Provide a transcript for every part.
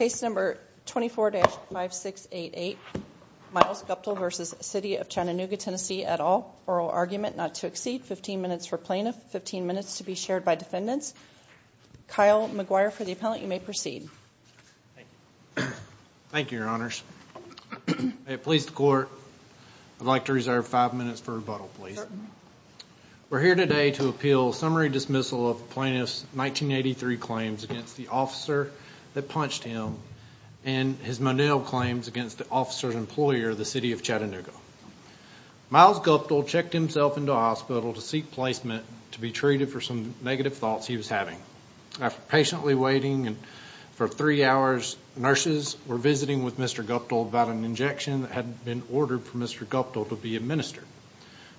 at all, oral argument not to exceed, 15 minutes for plaintiff, 15 minutes to be shared by defendants. Kyle McGuire for the appellant, you may proceed. Thank you, your honors. Police to court, I'd like to reserve five minutes for rebuttal, please. We're here today to appeal summary dismissal of plaintiff's 1983 claims against the officer that punched him and his Monell claims against the officer's employer, the City of Chattanooga. Myles Guptill checked himself into hospital to seek placement to be treated for some negative thoughts he was having. After patiently waiting for three hours, nurses were visiting with Mr. Guptill about an injection that had been ordered for Mr. Guptill to be administered.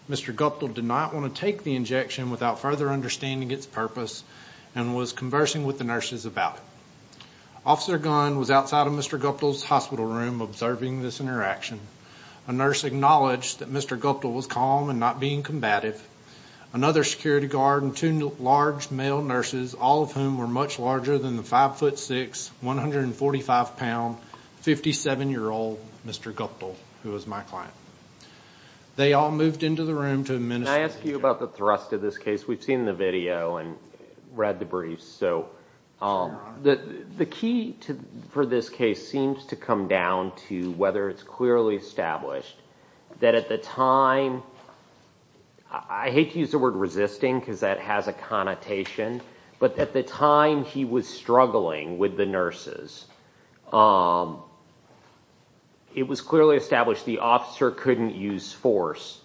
Mr. Guptill did not want to take the injection without further understanding its purpose and was conversing with the nurses about it. Officer Gunn was outside of Mr. Guptill's hospital room observing this interaction. A nurse acknowledged that Mr. Guptill was calm and not being combative. Another security guard and two large male nurses, all of whom were much larger than the 5 foot 6, 145 pound, 57 year old Mr. Guptill, who was my client. They all moved into the room to administer the injection. Can I ask you about the thrust of this case? We've seen the video and read the briefs. The key for this case seems to come down to whether it's clearly established that at the time, I hate to use the word resisting because that has a connotation, but at the time he was struggling with the nurses, it was clearly established the officer couldn't use force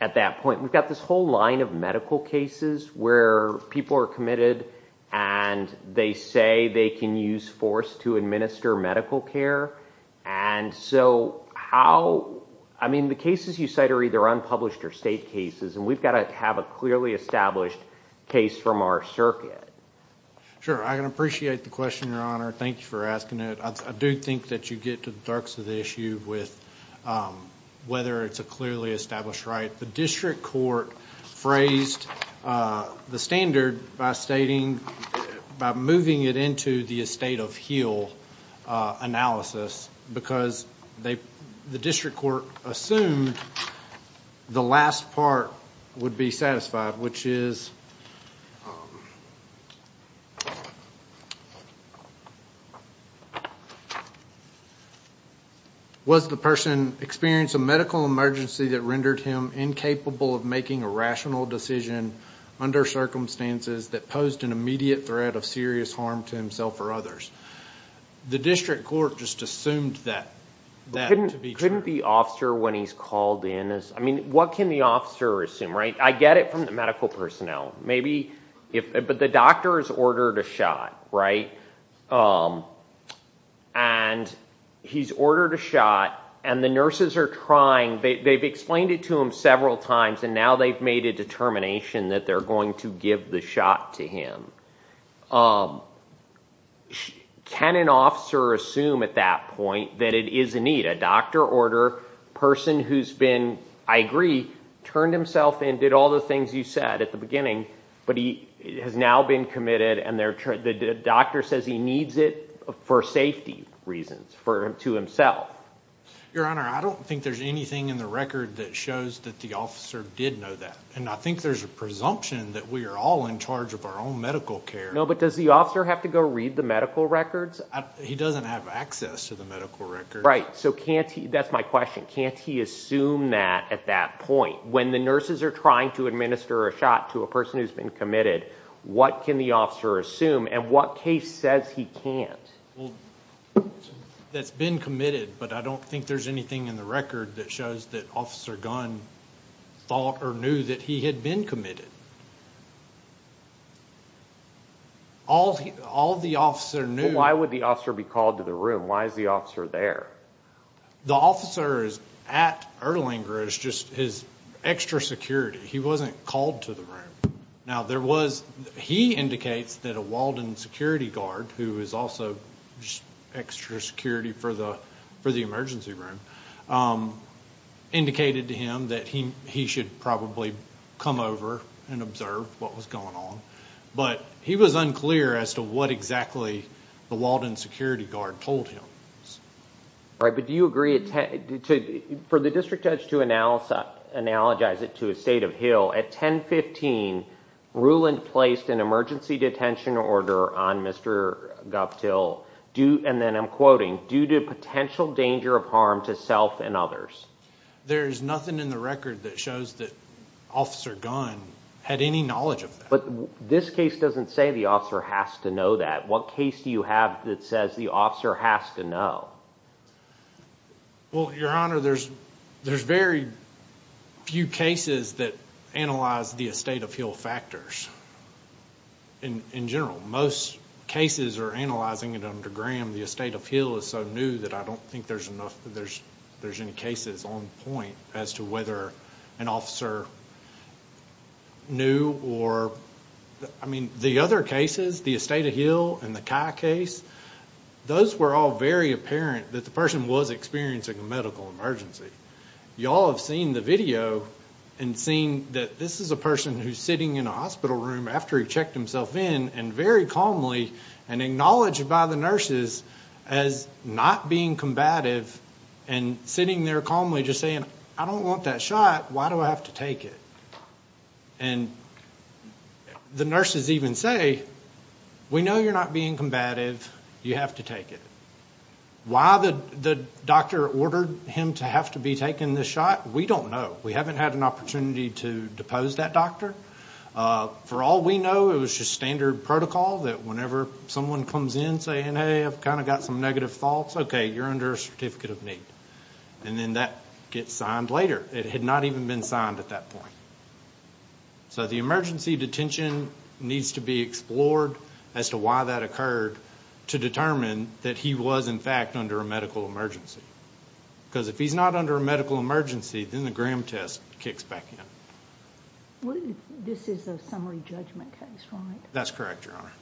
at that point. We've got this whole line of medical cases where people are committed and they say they can use force to administer medical care. The cases you cite are either unpublished or state cases and we've got to have a clearly established case from our circuit. I appreciate the question, your honor. Thank you for asking it. I do think that you get to the dirks of the issue with whether it's a clearly established right. The district court phrased the standard by stating, by moving it into the estate of heel analysis because the district court assumed the last part would be satisfied which is, was the person experiencing a medical emergency that rendered him incapable of making a rational decision under circumstances that posed an immediate threat of serious harm to himself or others. The district court just assumed that to be true. Couldn't the officer when he's called in, what can the officer assume? I get it from the medical personnel, but the doctor has ordered a shot. He's ordered a shot and the nurses are trying, they've explained it to him several times and now they've made a determination that they're going to give the shot to him. Can an officer assume at that point that it is a need, a doctor order, person who's been, I agree, turned himself in, did all the things you said at the beginning, but he has now been committed and the doctor says he needs it for safety reasons, to himself. Your honor, I don't think there's anything in the record that shows that the officer did know that. And I think there's a presumption that we are all in charge of our own medical care. No, but does the officer have to go read the medical records? He doesn't have access to the medical records. Right, so can't he, that's my question, can't he assume that at that point? When the nurses are trying to administer a shot to a person who's been committed, what can the officer assume and what case says he can't? That's been committed, but I don't think there's anything in the record that shows that Officer Gunn thought or knew that he had been committed. All the officer knew. Why would the officer be called to the room? Why is the officer there? The officer is at Erlanger is just his extra security. He wasn't called to the room. Now there was, he indicates that a Walden security guard, who is also just extra security for the emergency room, indicated to him that he should probably come over and observe what was going on, but he was unclear as to what exactly the Walden security guard told him. Right, but do you agree, for the district judge to analogize it to a state of Hill, at 1015, Ruland placed an emergency detention order on Mr. Guptill due, and then I'm quoting, due to potential danger of harm to self and others? There's nothing in the record that shows that Officer Gunn had any knowledge of that. But this case doesn't say the officer has to know that. What case do you have that says the officer has to know? Well, your honor, there's very few cases that analyze the estate of Hill factors in general. Most cases are analyzing it under Graham, the estate of Hill is so new that I don't think there's enough, there's any cases on point as to whether an officer knew or, I mean, the other cases, the estate of Hill and the Kai case, those were all very apparent that the person was experiencing a medical emergency. You all have seen the video and seen that this is a person who's sitting in a hospital room after he checked himself in and very calmly and acknowledged by the nurses as not being combative and sitting there calmly just saying, I don't want that shot, why do I have to take it? And the nurses even say, we know you're not being combative, you have to take it. Why the doctor ordered him to have to be taking this shot, we don't know. We haven't had an opportunity to depose that doctor. For all we know, it was just standard protocol that whenever someone comes in saying, hey, I've kind of got some negative thoughts, okay, you're under a certificate of need. And then that gets signed later. It had not even been signed at that point. So the emergency detention needs to be explored as to why that occurred to determine that he was, in fact, under a medical emergency. Because if he's not under a medical emergency, then the Graham test kicks back in. This is a summary judgment case, right? That's correct, Your Honor.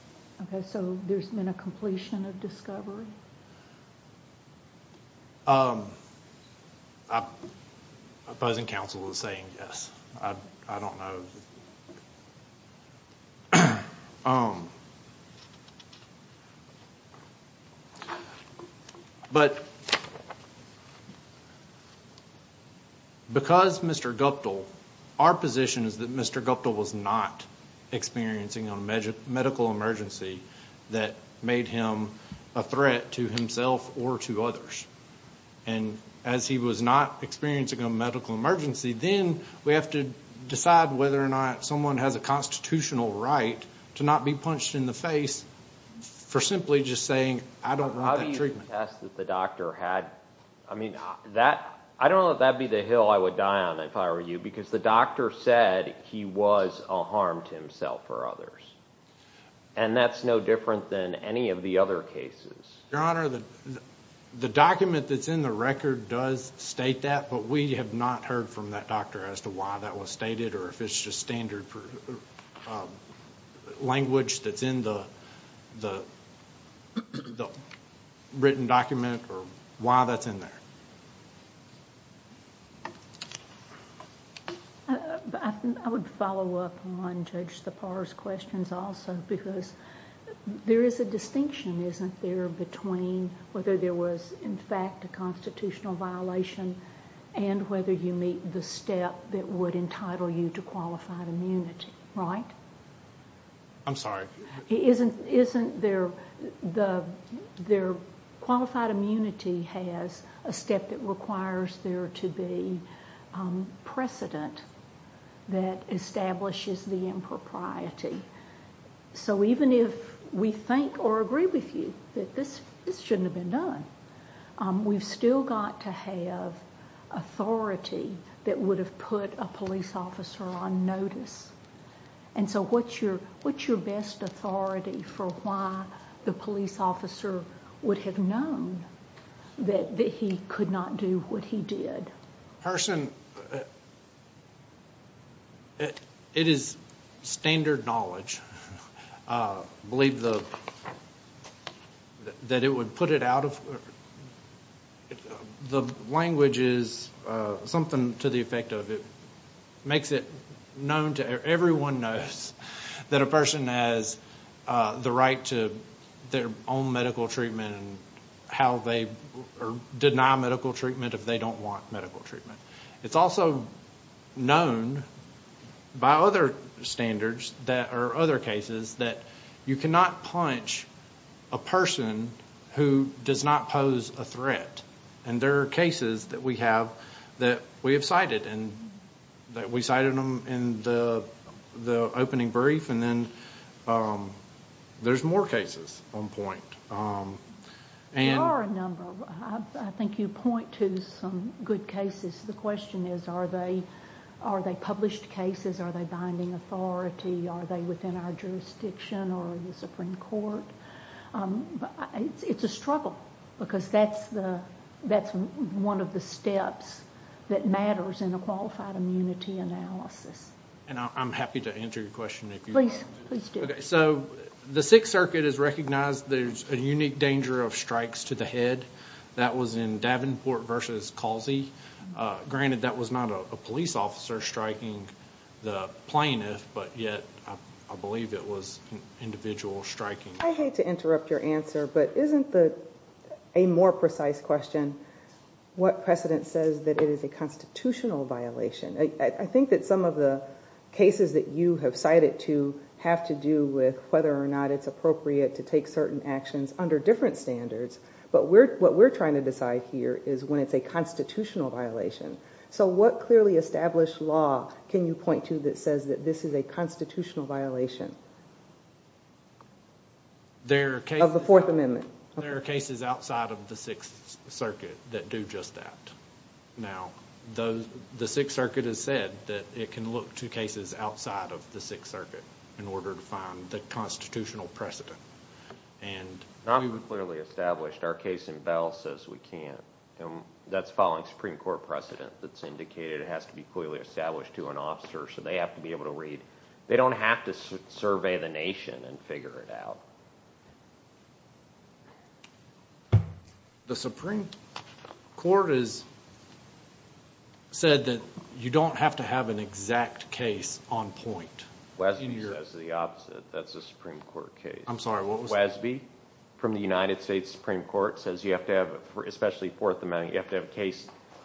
Okay, so there's been a completion of discovery? Opposing counsel is saying yes. I don't know. But because Mr. Guptill, our position is that Mr. Guptill was not experiencing a medical emergency that made him a threat to himself or to others. And as he was not experiencing a medical emergency, then we have to decide whether or not someone has a constitutional right to not be punched in the face for simply just saying, I don't want that treatment. How do you attest that the doctor had, I mean, I don't know if that would be the hill I would die on if I were you, because the doctor said he was a harm to himself or others. And that's no different than any of the other cases. Your Honor, the document that's in the record does state that, but we have not heard from that doctor as to why that was stated or if it's just standard language that's in the written document or why that's in there. I would follow up on Judge Sipar's questions also, because there is a distinction, isn't there, between a constitutional violation and whether you meet the step that would entitle you to qualified immunity, right? I'm sorry? Isn't there, qualified immunity has a step that requires there to be precedent that establishes the impropriety. So even if we think or agree with you that this shouldn't have been done, we've still got to have authority that would have put a police officer on notice. And so what's your best authority for why the police officer would have known that he could not do what he did? Harson, it is standard knowledge. I believe the Supreme Court in the United States has that it would put it out of, the language is something to the effect of it makes it known to everyone knows that a person has the right to their own medical treatment and how they deny medical treatment if they don't want medical treatment. It's also known by other standards that, or other cases, that you cannot punch a person who does not pose a threat. And there are cases that we have that we have cited and that we cited them in the opening brief and then there's more cases on point. There are a number. I think you point to some good cases. The question is, are they published cases? Are they binding authority? Are they within our jurisdiction or the Supreme Court? It's a struggle because that's one of the steps that matters in a qualified immunity analysis. And I'm happy to answer your question if you want. Please, please do. So the Sixth Circuit has recognized there's a unique danger of strikes to the head. That was in Davenport v. Calzee. Granted, that was not a police officer striking the plaintiff, but yet I believe it was an individual striking. I hate to interrupt your answer, but isn't the, a more precise question, what precedent says that it is a constitutional violation? I think that some of the cases that you have cited to have to do with whether or not it's appropriate to take certain actions under different standards, but what we're trying to decide here is when it's a constitutional violation. So what clearly established law can you point to that says that this is a constitutional violation of the Fourth Amendment? There are cases outside of the Sixth Circuit that do just that. Now, the Sixth Circuit has said that it can look to cases outside of the Sixth Circuit in order to find the constitutional precedent. Not even clearly established. Our case in Bell says we can't. That's following Supreme Court precedent that's indicated it has to be clearly established to an officer, so they have to be able to read. They don't have to survey the nation and figure it out. The Supreme Court has said that you don't have to have an exact case on point. Wesby says the opposite. That's a Supreme Court case. I'm sorry, what was that? Wesby from the United States Supreme Court says you have to have, especially Fourth Amendment, you have to have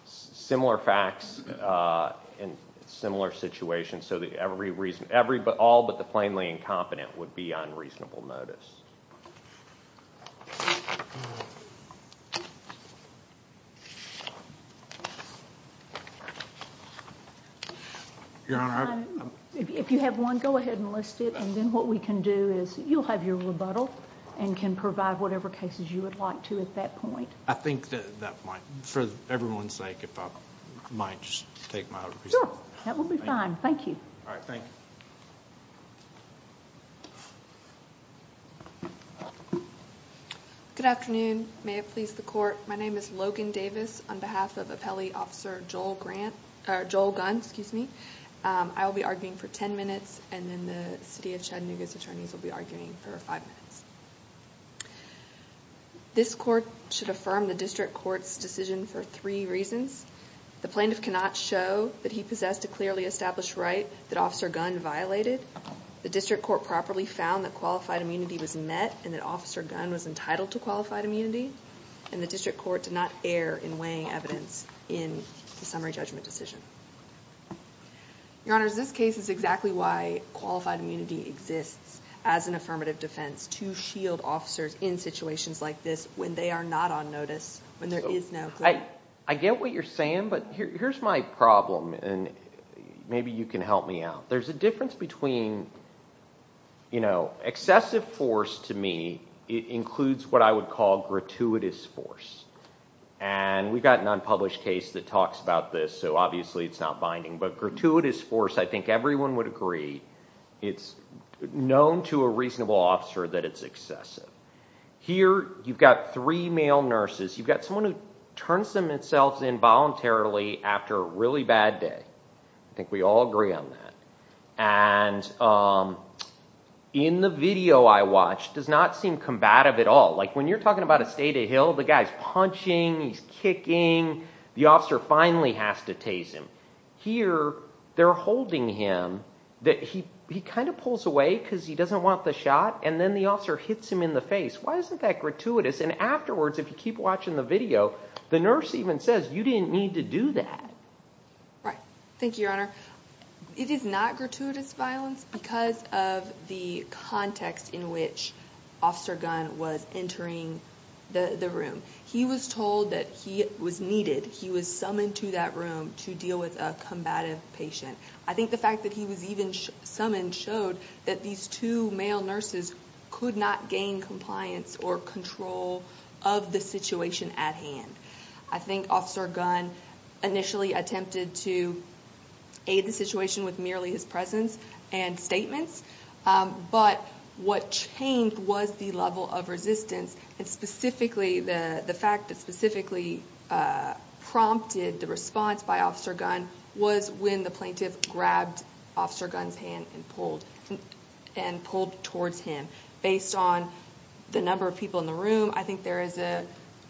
similar facts and similar situations so that all but the plainly incompetent would be on reasonable notice. Your Honor, I... If you have one, go ahead and list it, and then what we can do is you'll have your rebuttal and can provide whatever cases you would like to at that point. I think that at that point, for everyone's sake, if I might just take my rebuttal. Sure, that would be fine. Thank you. Good afternoon. May it please the Court. My name is Logan Davis. On behalf of Appellee Officer Joel Gunn, I will be arguing for ten minutes, and then the City of Chattanooga's attorneys will be arguing for five minutes. This Court should affirm the District Court's decision for three reasons. The plaintiff cannot show that he possessed a clearly established right that Officer Gunn violated, the District Court properly found that qualified immunity was met and that Officer Gunn was entitled to qualified immunity, and the District Court did not err in weighing evidence in the summary judgment decision. Your Honors, this case is exactly why qualified immunity exists as an affirmative defense to shield officers in situations like this when they are not on notice, when there is no claim. I get what you're saying, but here's my problem, and maybe you can help me out. There's a difference between, you know, excessive force to me, it includes what I would call gratuitous force, and we've got an unpublished case that talks about this, so obviously it's not binding, but gratuitous force, I think everyone would agree, it's known to a reasonable officer that it's excessive. Here, you've got three male nurses, you've got someone who turns themselves in voluntarily after a really bad day, I think we all agree on that, and in the video I watched, it does not seem combative at all, like when you're talking about a state of the hill, the guy's punching, he's kicking, the officer finally has to tase him. Here, they're holding him, he kind of pulls away because he doesn't want the shot, and then the officer hits him in the face. Why isn't that gratuitous? And afterwards, if you keep watching the video, the nurse even says, you didn't need to do that. Right. Thank you, your honor. It is not gratuitous violence because of the context in which Officer Gunn was entering the room. He was told that he was needed, he was summoned to that room to deal with a combative patient. I think the fact that he was even summoned showed that these two male nurses could not gain compliance or control of the situation at hand. I think Officer Gunn initially attempted to aid the situation with merely his presence and statements, but what changed was the level of resistance, and specifically, the fact that specifically prompted the response by Officer Gunn was when the plaintiff grabbed Officer Gunn's hand and pulled towards him. Based on the number of people in the room, I think there is a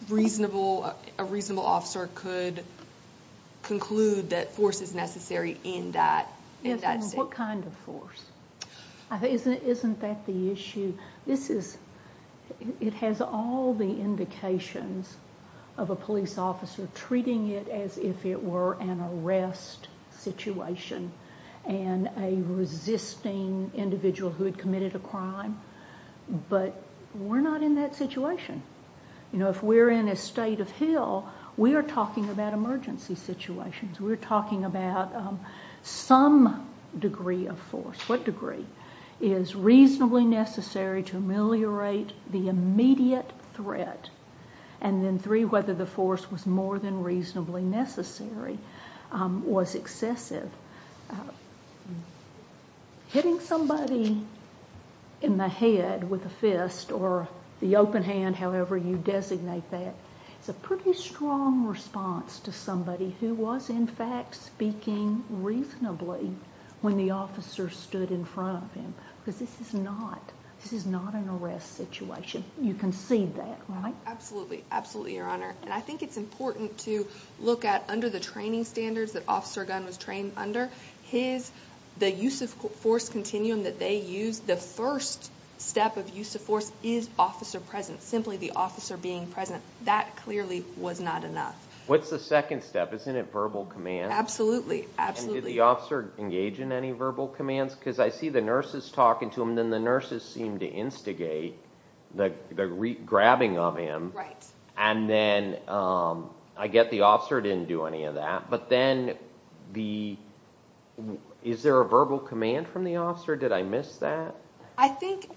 reasonable, a reasonable officer could conclude that force is necessary in that state. Yes, and what kind of force? Isn't that the issue? This is, it has all the indications of a police officer treating it as if it were an arrest situation and a resisting individual who had committed a crime, but we're not in that situation. You know, if we're in a state of heel, we are talking about emergency situations. We're talking about some degree of force. What degree is reasonably necessary to ameliorate the immediate threat, and then three, whether the force was more than reasonably necessary, was excessive. Hitting somebody in the head with a fist or the open hand, however you designate that, is a pretty strong response to somebody who was, in fact, speaking reasonably when the officer stood in front of him, because this is not, this is not an arrest situation. You can see that, right? Absolutely, absolutely, Your Honor, and I think it's important to look at under the training standards that Officer Gunn was trained under, his, the use of force continuum that they used, the first step of use of force is officer presence, simply the officer being present. That clearly was not enough. What's the second step? Isn't it verbal command? Absolutely, absolutely. And did the officer engage in any verbal commands? Because I see the nurses talking to him, then the nurses seem to instigate the grabbing of him, and then I get the officer didn't do any of that, but then the, is there a verbal command from the officer? Did I miss that? I think,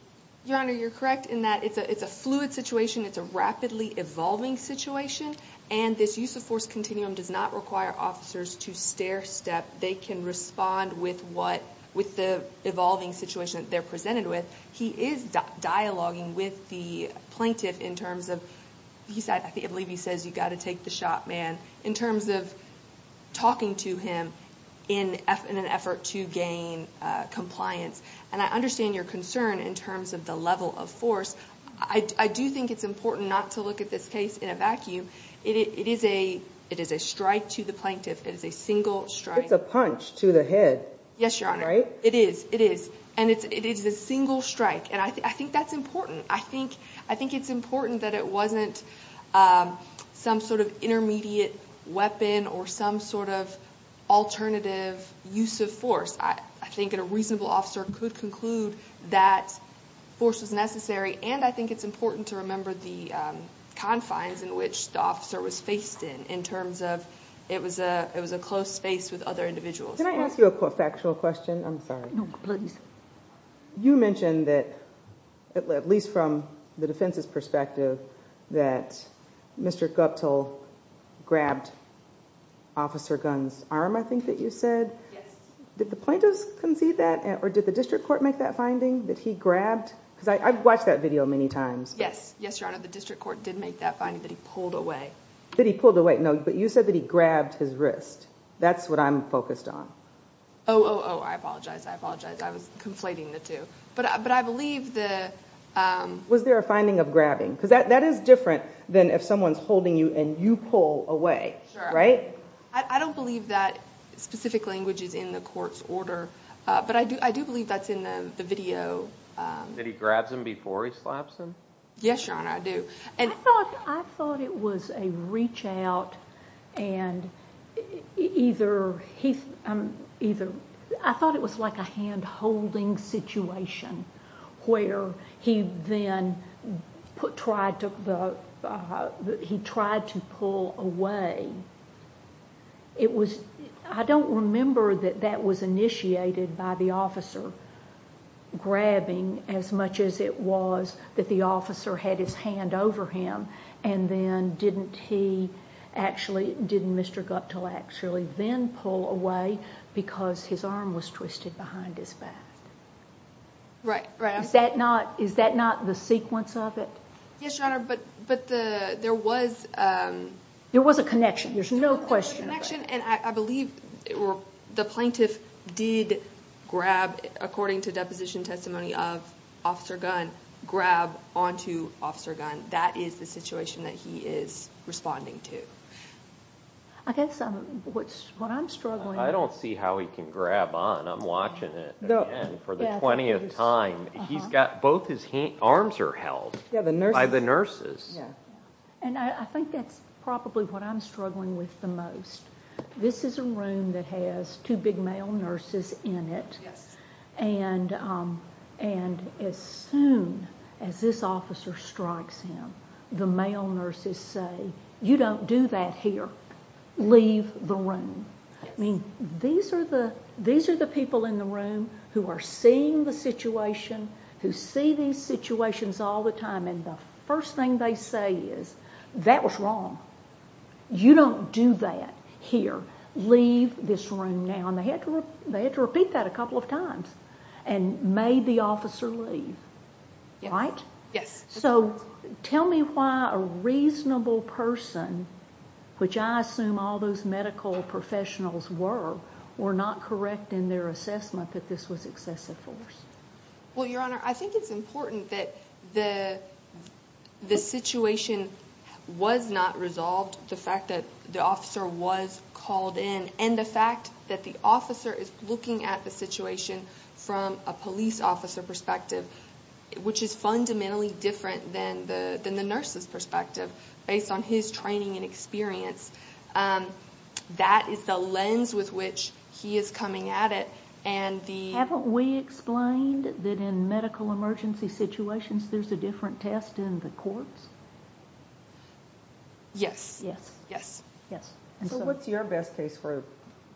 Your Honor, you're correct in that it's a fluid situation, it's a rapidly evolving situation, and this use of force continuum does not require officers to stair-step. They can respond with what, with the evolving situation that they're presented with. He is dialoguing with the plaintiff in terms of, he said, I believe he says, you've got to take the shot, man, in terms of talking to him in an effort to gain compliance. And I understand your concern in terms of the level of force. I do think it's important not to look at this case in a vacuum. It is a strike to the plaintiff, it is a single strike. It's a punch to the head. Yes, Your Honor, it is, it is. And it is a single strike, and I think that's important. I think it's important that it wasn't some sort of intermediate weapon or some sort of alternative use of force. I think a reasonable officer could conclude that force was necessary, and I think it's important to remember the confines in which the officer was faced in, in terms of it was a close space with other individuals. Can I ask you a factual question? I'm sorry. You mentioned that, at least from the defense's perspective, that Mr. Guptill grabbed Officer Gunn's arm, I think that you said. Did the plaintiffs concede that, or did the district court make that finding, that he grabbed? Because I've watched that video many times. Yes, yes, Your Honor, the district court did make that finding, that he pulled away. That he pulled away. No, but you said that he grabbed his wrist. That's what I'm focused on. Oh, oh, oh, I apologize, I apologize. I was conflating the two. But I believe the... Was there a finding of grabbing? Because that is different than if someone's holding you and you pull away, right? I don't believe that specific language is in the court's order, but I do believe that's in the video. That he grabs him before he slaps him? Yes, Your Honor, I do. I thought it was a reach-out, and either he... I thought it was like a hand-holding situation where he then tried to pull away. It was... I don't remember that that was initiated by the officer grabbing as much as it was that the officer had his hand over him, and then didn't he actually, didn't Mr. Guptill actually then pull away because his arm was twisted behind his back? Is that not the sequence of it? Yes, Your Honor, but there was... There was a connection, there's no question about it. There was a connection, and I believe the plaintiff did grab, according to deposition testimony of Officer Gunn, grab onto Officer Gunn. That is the situation that he is responding to. I guess what I'm struggling... I don't see how he can grab on. I'm watching it again for the 20th time. He's got... Both his arms are held by the nurses. Yeah, and I think that's probably what I'm struggling with the most. This is a room that has two big male nurses in it, and as soon as this officer strikes him, the male nurses say, you don't do that here. Leave the room. I mean, these are the people in the room who are seeing the situation, who see these situations all the time, and the first thing they say is, that was wrong. You don't do that here. Leave this room now. They had to repeat that a couple of times and made the officer leave, right? Yes. So tell me why a reasonable person, which I assume all those medical professionals were, were not correct in their assessment that this was excessive force? Well, Your Honor, I think it's important that the situation was not resolved, the fact that the officer was called in, and the fact that the officer is looking at the situation from a police officer perspective, which is fundamentally different than the nurse's perspective, based on his training and experience. That is the lens with which he is coming at it, and the... Haven't we explained that in medical emergency situations, there's a different test in the courts? Yes. Yes. Yes. So what's your best case for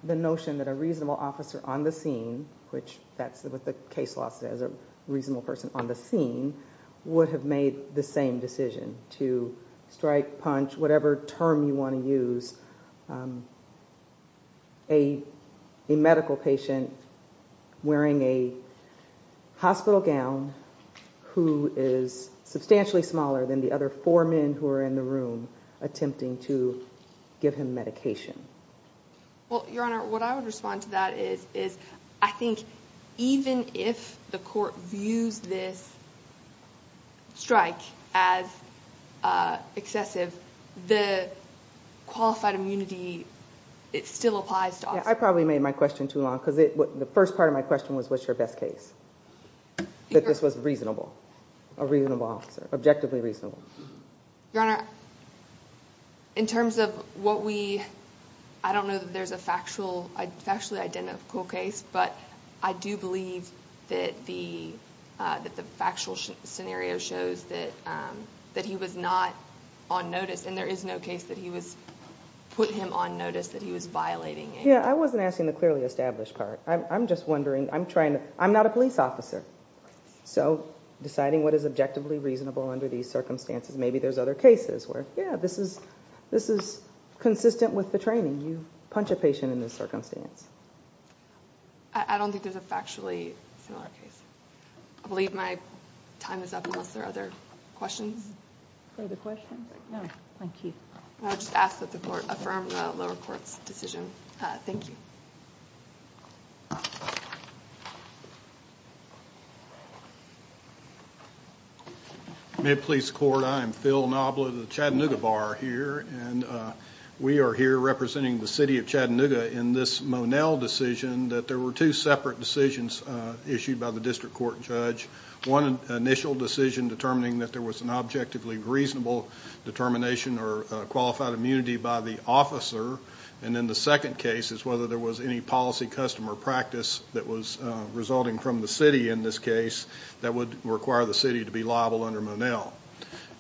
the notion that a reasonable officer on the scene, which that's what the case law says, a reasonable person on the scene, would have made the same decision to strike, punch, whatever term you want to use, a medical patient wearing a hospital gown who is substantially smaller than the other four men who are in the room attempting to give him medication? Well, Your Honor, what I would respond to that is, I think even if the court views this strike as excessive, the qualified immunity, it still applies to officers. I probably made my question too long, because the first part of my question was, what's your best case? That this was reasonable. A reasonable officer. Objectively reasonable. In terms of what we... I don't know that there's a factually identical case, but I do believe that the factual scenario shows that he was not on notice, and there is no case that he was... put him on notice that he was violating a... Yeah, I wasn't asking the clearly established part. I'm just wondering. I'm trying to... I'm not a police officer. So, deciding what is objectively reasonable under these circumstances. Maybe there's other cases where, yeah, this is consistent with the training. You punch a patient in this circumstance. I don't think there's a factually similar case. I believe my time is up, unless there are other questions. Further questions? No, thank you. I'll just ask that the court affirm the lower court's decision. Thank you. Mid-Police Court, I am Phil Knobla, the Chattanooga Bar here, and we are here representing the City of Chattanooga in this Monell decision that there were two separate decisions issued by the District Court Judge. One initial decision determining that there was an objectively reasonable determination or qualified immunity by the officer, and then the second case is whether there was any policy, custom, or practice that was resulting from the City in this case that would require the City to be liable under Monell.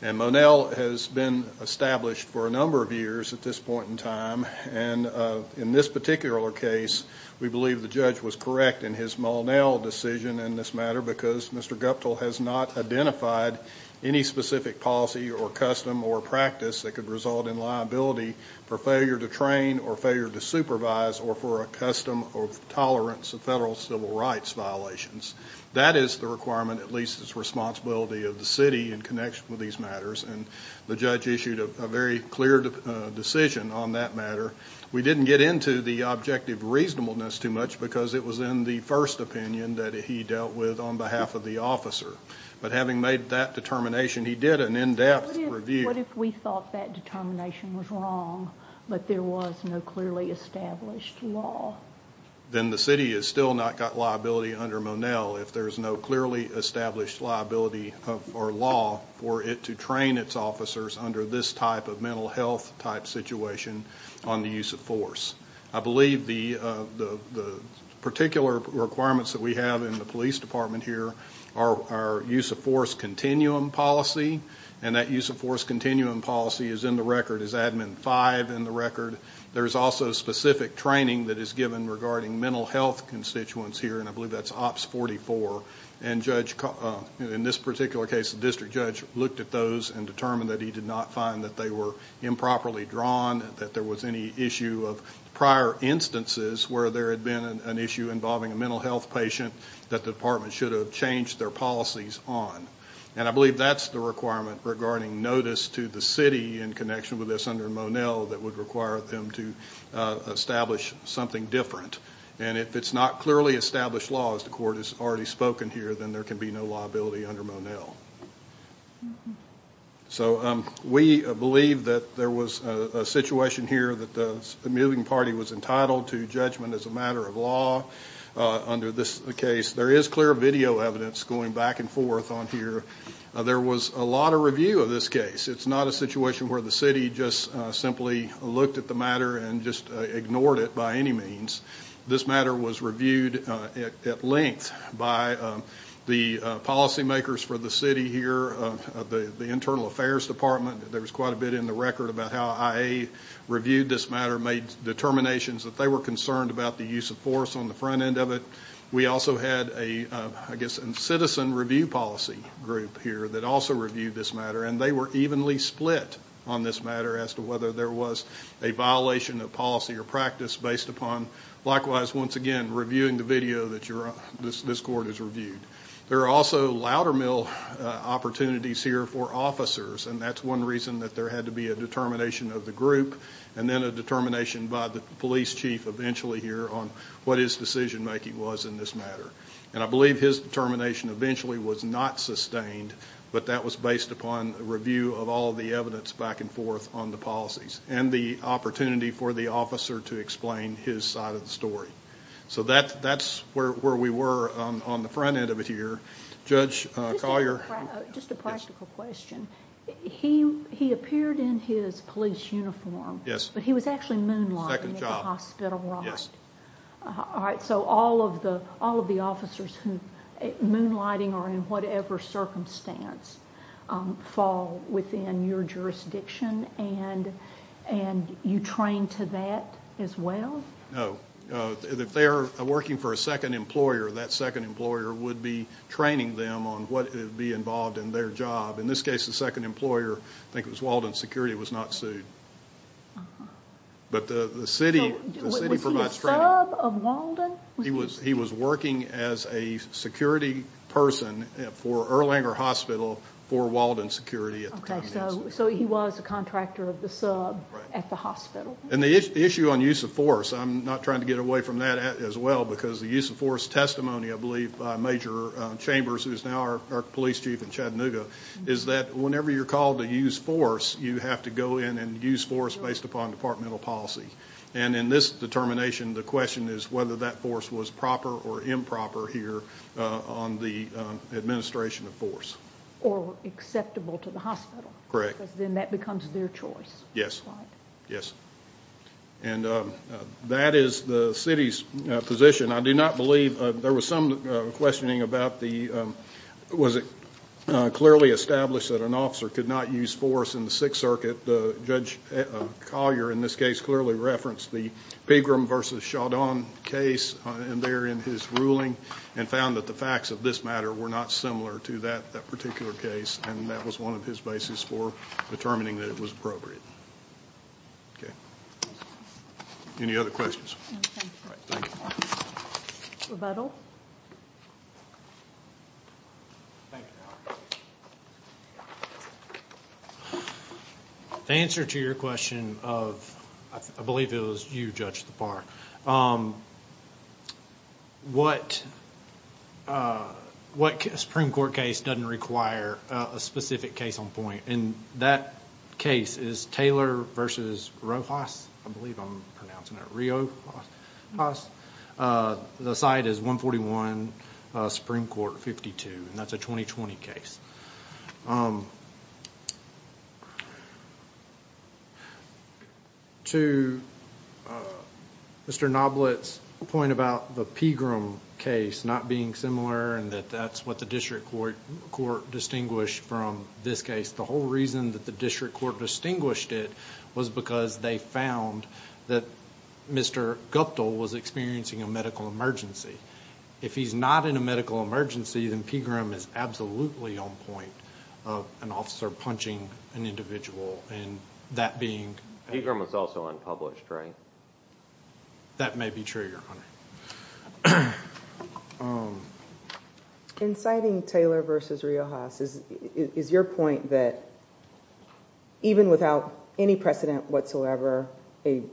And Monell has been established for a number of years at this point in time, and in this particular case, we believe the judge was correct in his Monell decision in this matter because Mr. Guptill has not identified any specific policy or custom or practice that could result in liability for failure to train or failure to supervise or for a custom or tolerance of federal civil rights violations. That is the requirement, at least it's the responsibility of the City in connection with these matters, and the judge issued a very clear decision on that matter. We didn't get into the objective reasonableness too much because it was in the first opinion that he dealt with on behalf of the officer, but having made that determination, he did an in-depth review. What if we thought that determination was wrong, but there was no clearly established law? Then the City has still not got liability under Monell. If there's no clearly established liability or law for it to train its officers under this type of mental health type situation on the use of force. I believe the particular requirements that we have in the Police Department here are our use of force continuum policy, and that use of force continuum policy is in the record, is Admin 5 in the record. There's also specific training that is given regarding mental health constituents here, and I believe that's Ops 44. In this particular case, the District Judge looked at those and determined that he did not find that they were improperly drawn, that there was any issue of prior instances where there had been an issue involving a mental health patient that the Department should have changed their policies on. I believe that's the requirement regarding notice to the City in connection with this under Monell that would require them to establish something different. If it's not clearly established law, as the Court has already spoken here, then there can be no liability under Monell. We believe that there was a situation here that the moving party was entitled to judgment as a matter of law under this case. There is clear video evidence going back and forth on here. There was a lot of review of this case. It's not a situation where the City just simply looked at the matter and just ignored it by any means. This matter was reviewed at length by the policy makers for the City here, the Internal Affairs Department. There was quite a bit in the record about how IA reviewed this matter, made determinations that they were concerned about the use of force on the front end of it. We also had a, I guess, citizen review policy group here that also reviewed this matter, and they were evenly split on this matter as to whether there was a violation of policy or practice based upon, likewise, once again, reviewing the video that this Court has reviewed. There are also louder mill opportunities here for officers, and that's one reason that there had to be a determination of the group, and then a determination by the Police Chief eventually here on what his decision making was in this matter. And I believe his determination eventually was not sustained, but that was based upon a review of all the evidence back and forth on the policies, and the opportunity for the officer to explain his side of the story. So that's where we were on the front end of it here. Judge Collier? Just a practical question. He appeared in his police uniform, but he was actually moonlighting at the hospital, right? Yes. All right, so all of the officers who, moonlighting or in whatever circumstance, fall within your jurisdiction, and you train to that as well? No. If they're working for a second employer, that second employer would be training them on what would be involved in their job. In this case, the second employer, I think it was the city. Was he a sub of Walden? He was working as a security person for Erlanger Hospital for Walden Security at the time. So he was a contractor of the sub at the hospital. And the issue on use of force, I'm not trying to get away from that as well, because the use of force testimony, I believe, by Major Chambers, who is now our Police Chief in Chattanooga, is that whenever you're called to use force, you have to go in and use force based upon departmental policy. And in this determination, the question is whether that force was proper or improper here on the administration of force. Or acceptable to the hospital. Correct. Because then that becomes their choice. Yes. Right. Yes. And that is the city's position. I do not believe, there was some questioning about the, was it clearly established that an officer could not use force in the Sixth Circuit. Judge Collier, in this case, clearly referenced the Pegram versus Chandon case there in his ruling, and found that the facts of this matter were not similar to that particular case. And that was one of his bases for determining that it was appropriate. Okay. Any other questions? Thank you. Rebuttal. The answer to your question of, I believe it was you, Judge Thapar, what Supreme Court case doesn't require a specific case on point? And that case is Taylor versus Rojas, I believe I'm pronouncing it, Rio Rojas. The side is 141 Supreme Court 52. And that's a 2020 case. To Mr. Noblitt's point about the Pegram case not being similar and that that's what the district court distinguished from this case. The whole reason that the district court distinguished it was because they found that Mr. Guptill was experiencing a medical emergency. If he's not in a medical emergency, then Pegram is absolutely on point of an officer punching an individual. And that being. Pegram was also unpublished, right? That may be true, Your Honor. Inciting Taylor versus Rojas, is your point that even without any precedent whatsoever, an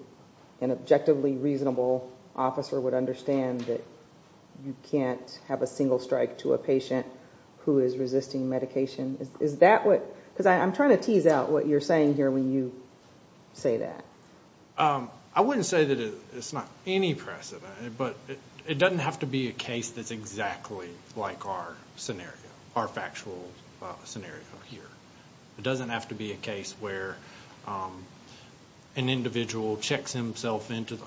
objectively reasonable officer would understand that you can't have a single strike to a patient who is resisting medication? Is that what, because I'm trying to figure out what you're saying here when you say that. I wouldn't say that it's not any precedent, but it doesn't have to be a case that's exactly like our scenario, our factual scenario here. It doesn't have to be a case where an individual checks himself into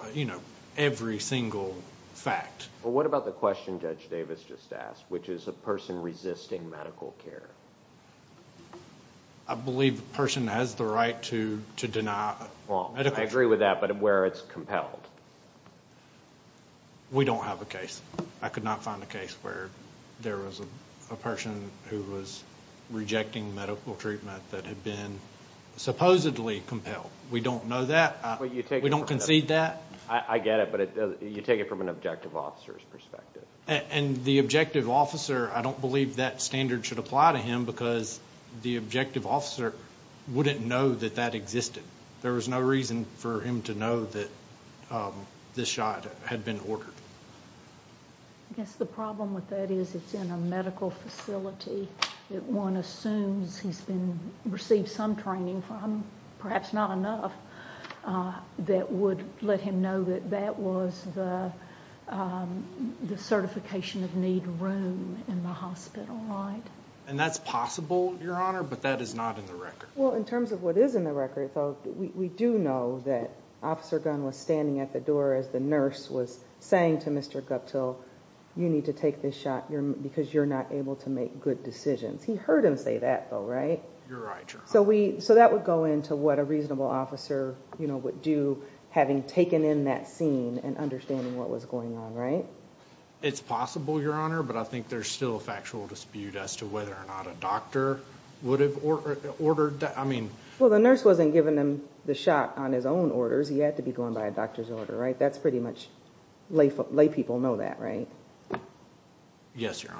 every single fact. What about the question Judge Davis just asked, which is a person resisting medical care? I believe the person has the right to deny medical care. I agree with that, but where it's compelled? We don't have a case. I could not find a case where there was a person who was rejecting medical treatment that had been supposedly compelled. We don't know that. We don't concede that. I get it, but you take it from an objective officer's perspective. And the objective officer, I don't believe that standard should apply to him because the objective officer wouldn't know that that existed. There was no reason for him to know that this shot had been ordered. I guess the problem with that is it's in a medical facility that one assumes he's received some training from, perhaps not enough, that would let him know that that was the certification of need room in the hospital, right? And that's possible, Your Honor, but that is not in the record. Well, in terms of what is in the record, we do know that Officer Gunn was standing at the door as the nurse was saying to Mr. Guptill, you need to take this shot because you're not able to make good decisions. He heard him say that, though, right? You're right. So that would go into what a reasonable officer would do, having taken in that scene and understanding what was going on, right? It's possible, Your Honor, but I think there's still a factual dispute as to whether or not a doctor would have ordered that. Well, the nurse wasn't giving him the shot on his own orders. He had to be going by a doctor's order, right? That's pretty much, lay people know that, right? Yes, Your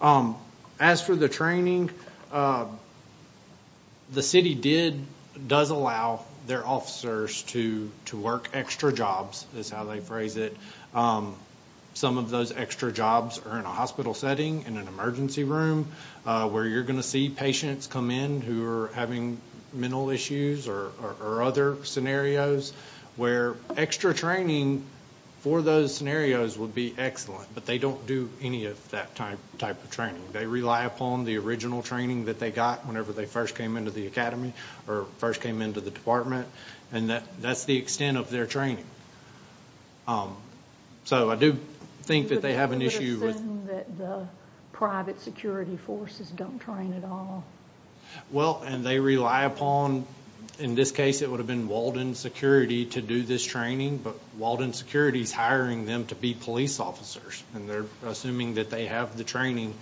Honor. As for the training, the city does allow their officers to work extra jobs, is how they phrase it. Some of those extra jobs are in a hospital setting, in an emergency room, where you're going to see patients come in who are having mental issues or other scenarios, where extra training for those scenarios would be excellent, but they don't do any of that type of training. They rely upon the original training that they got whenever they first came into the academy or first came into the department, and that's the extent of their training. So I do think that they have an issue with... You would assume that the private security forces don't train at all? Well, and they rely upon... In this case, it would have been Walden Security to do this training, but Walden Security is hiring them to be police officers, and they're assuming that they have the training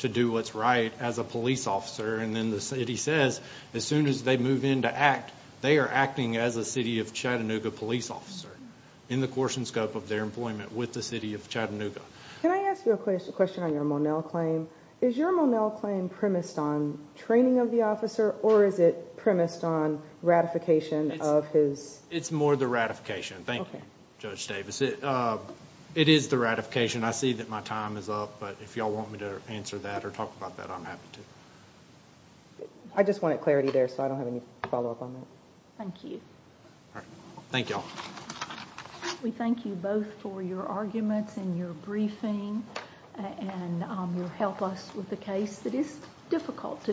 to do what's right as a police officer. And then the city says, as soon as they move in to act, they are acting as a city of Chattanooga police officer in the course and scope of their employment with the city of Chattanooga. Can I ask you a question on your Monell claim? Is your Monell claim premised on training of the officer, or is it premised on ratification of his... It's more the ratification. Thank you, Judge Davis. It is the ratification. I see that my time is up, but if you all want me to answer that or talk about that, I'm happy to. I just wanted clarity there, so I don't have any follow-up on that. Thank you. All right. Thank you all. We thank you both for your arguments and your briefing and your help us with a case that is difficult to do.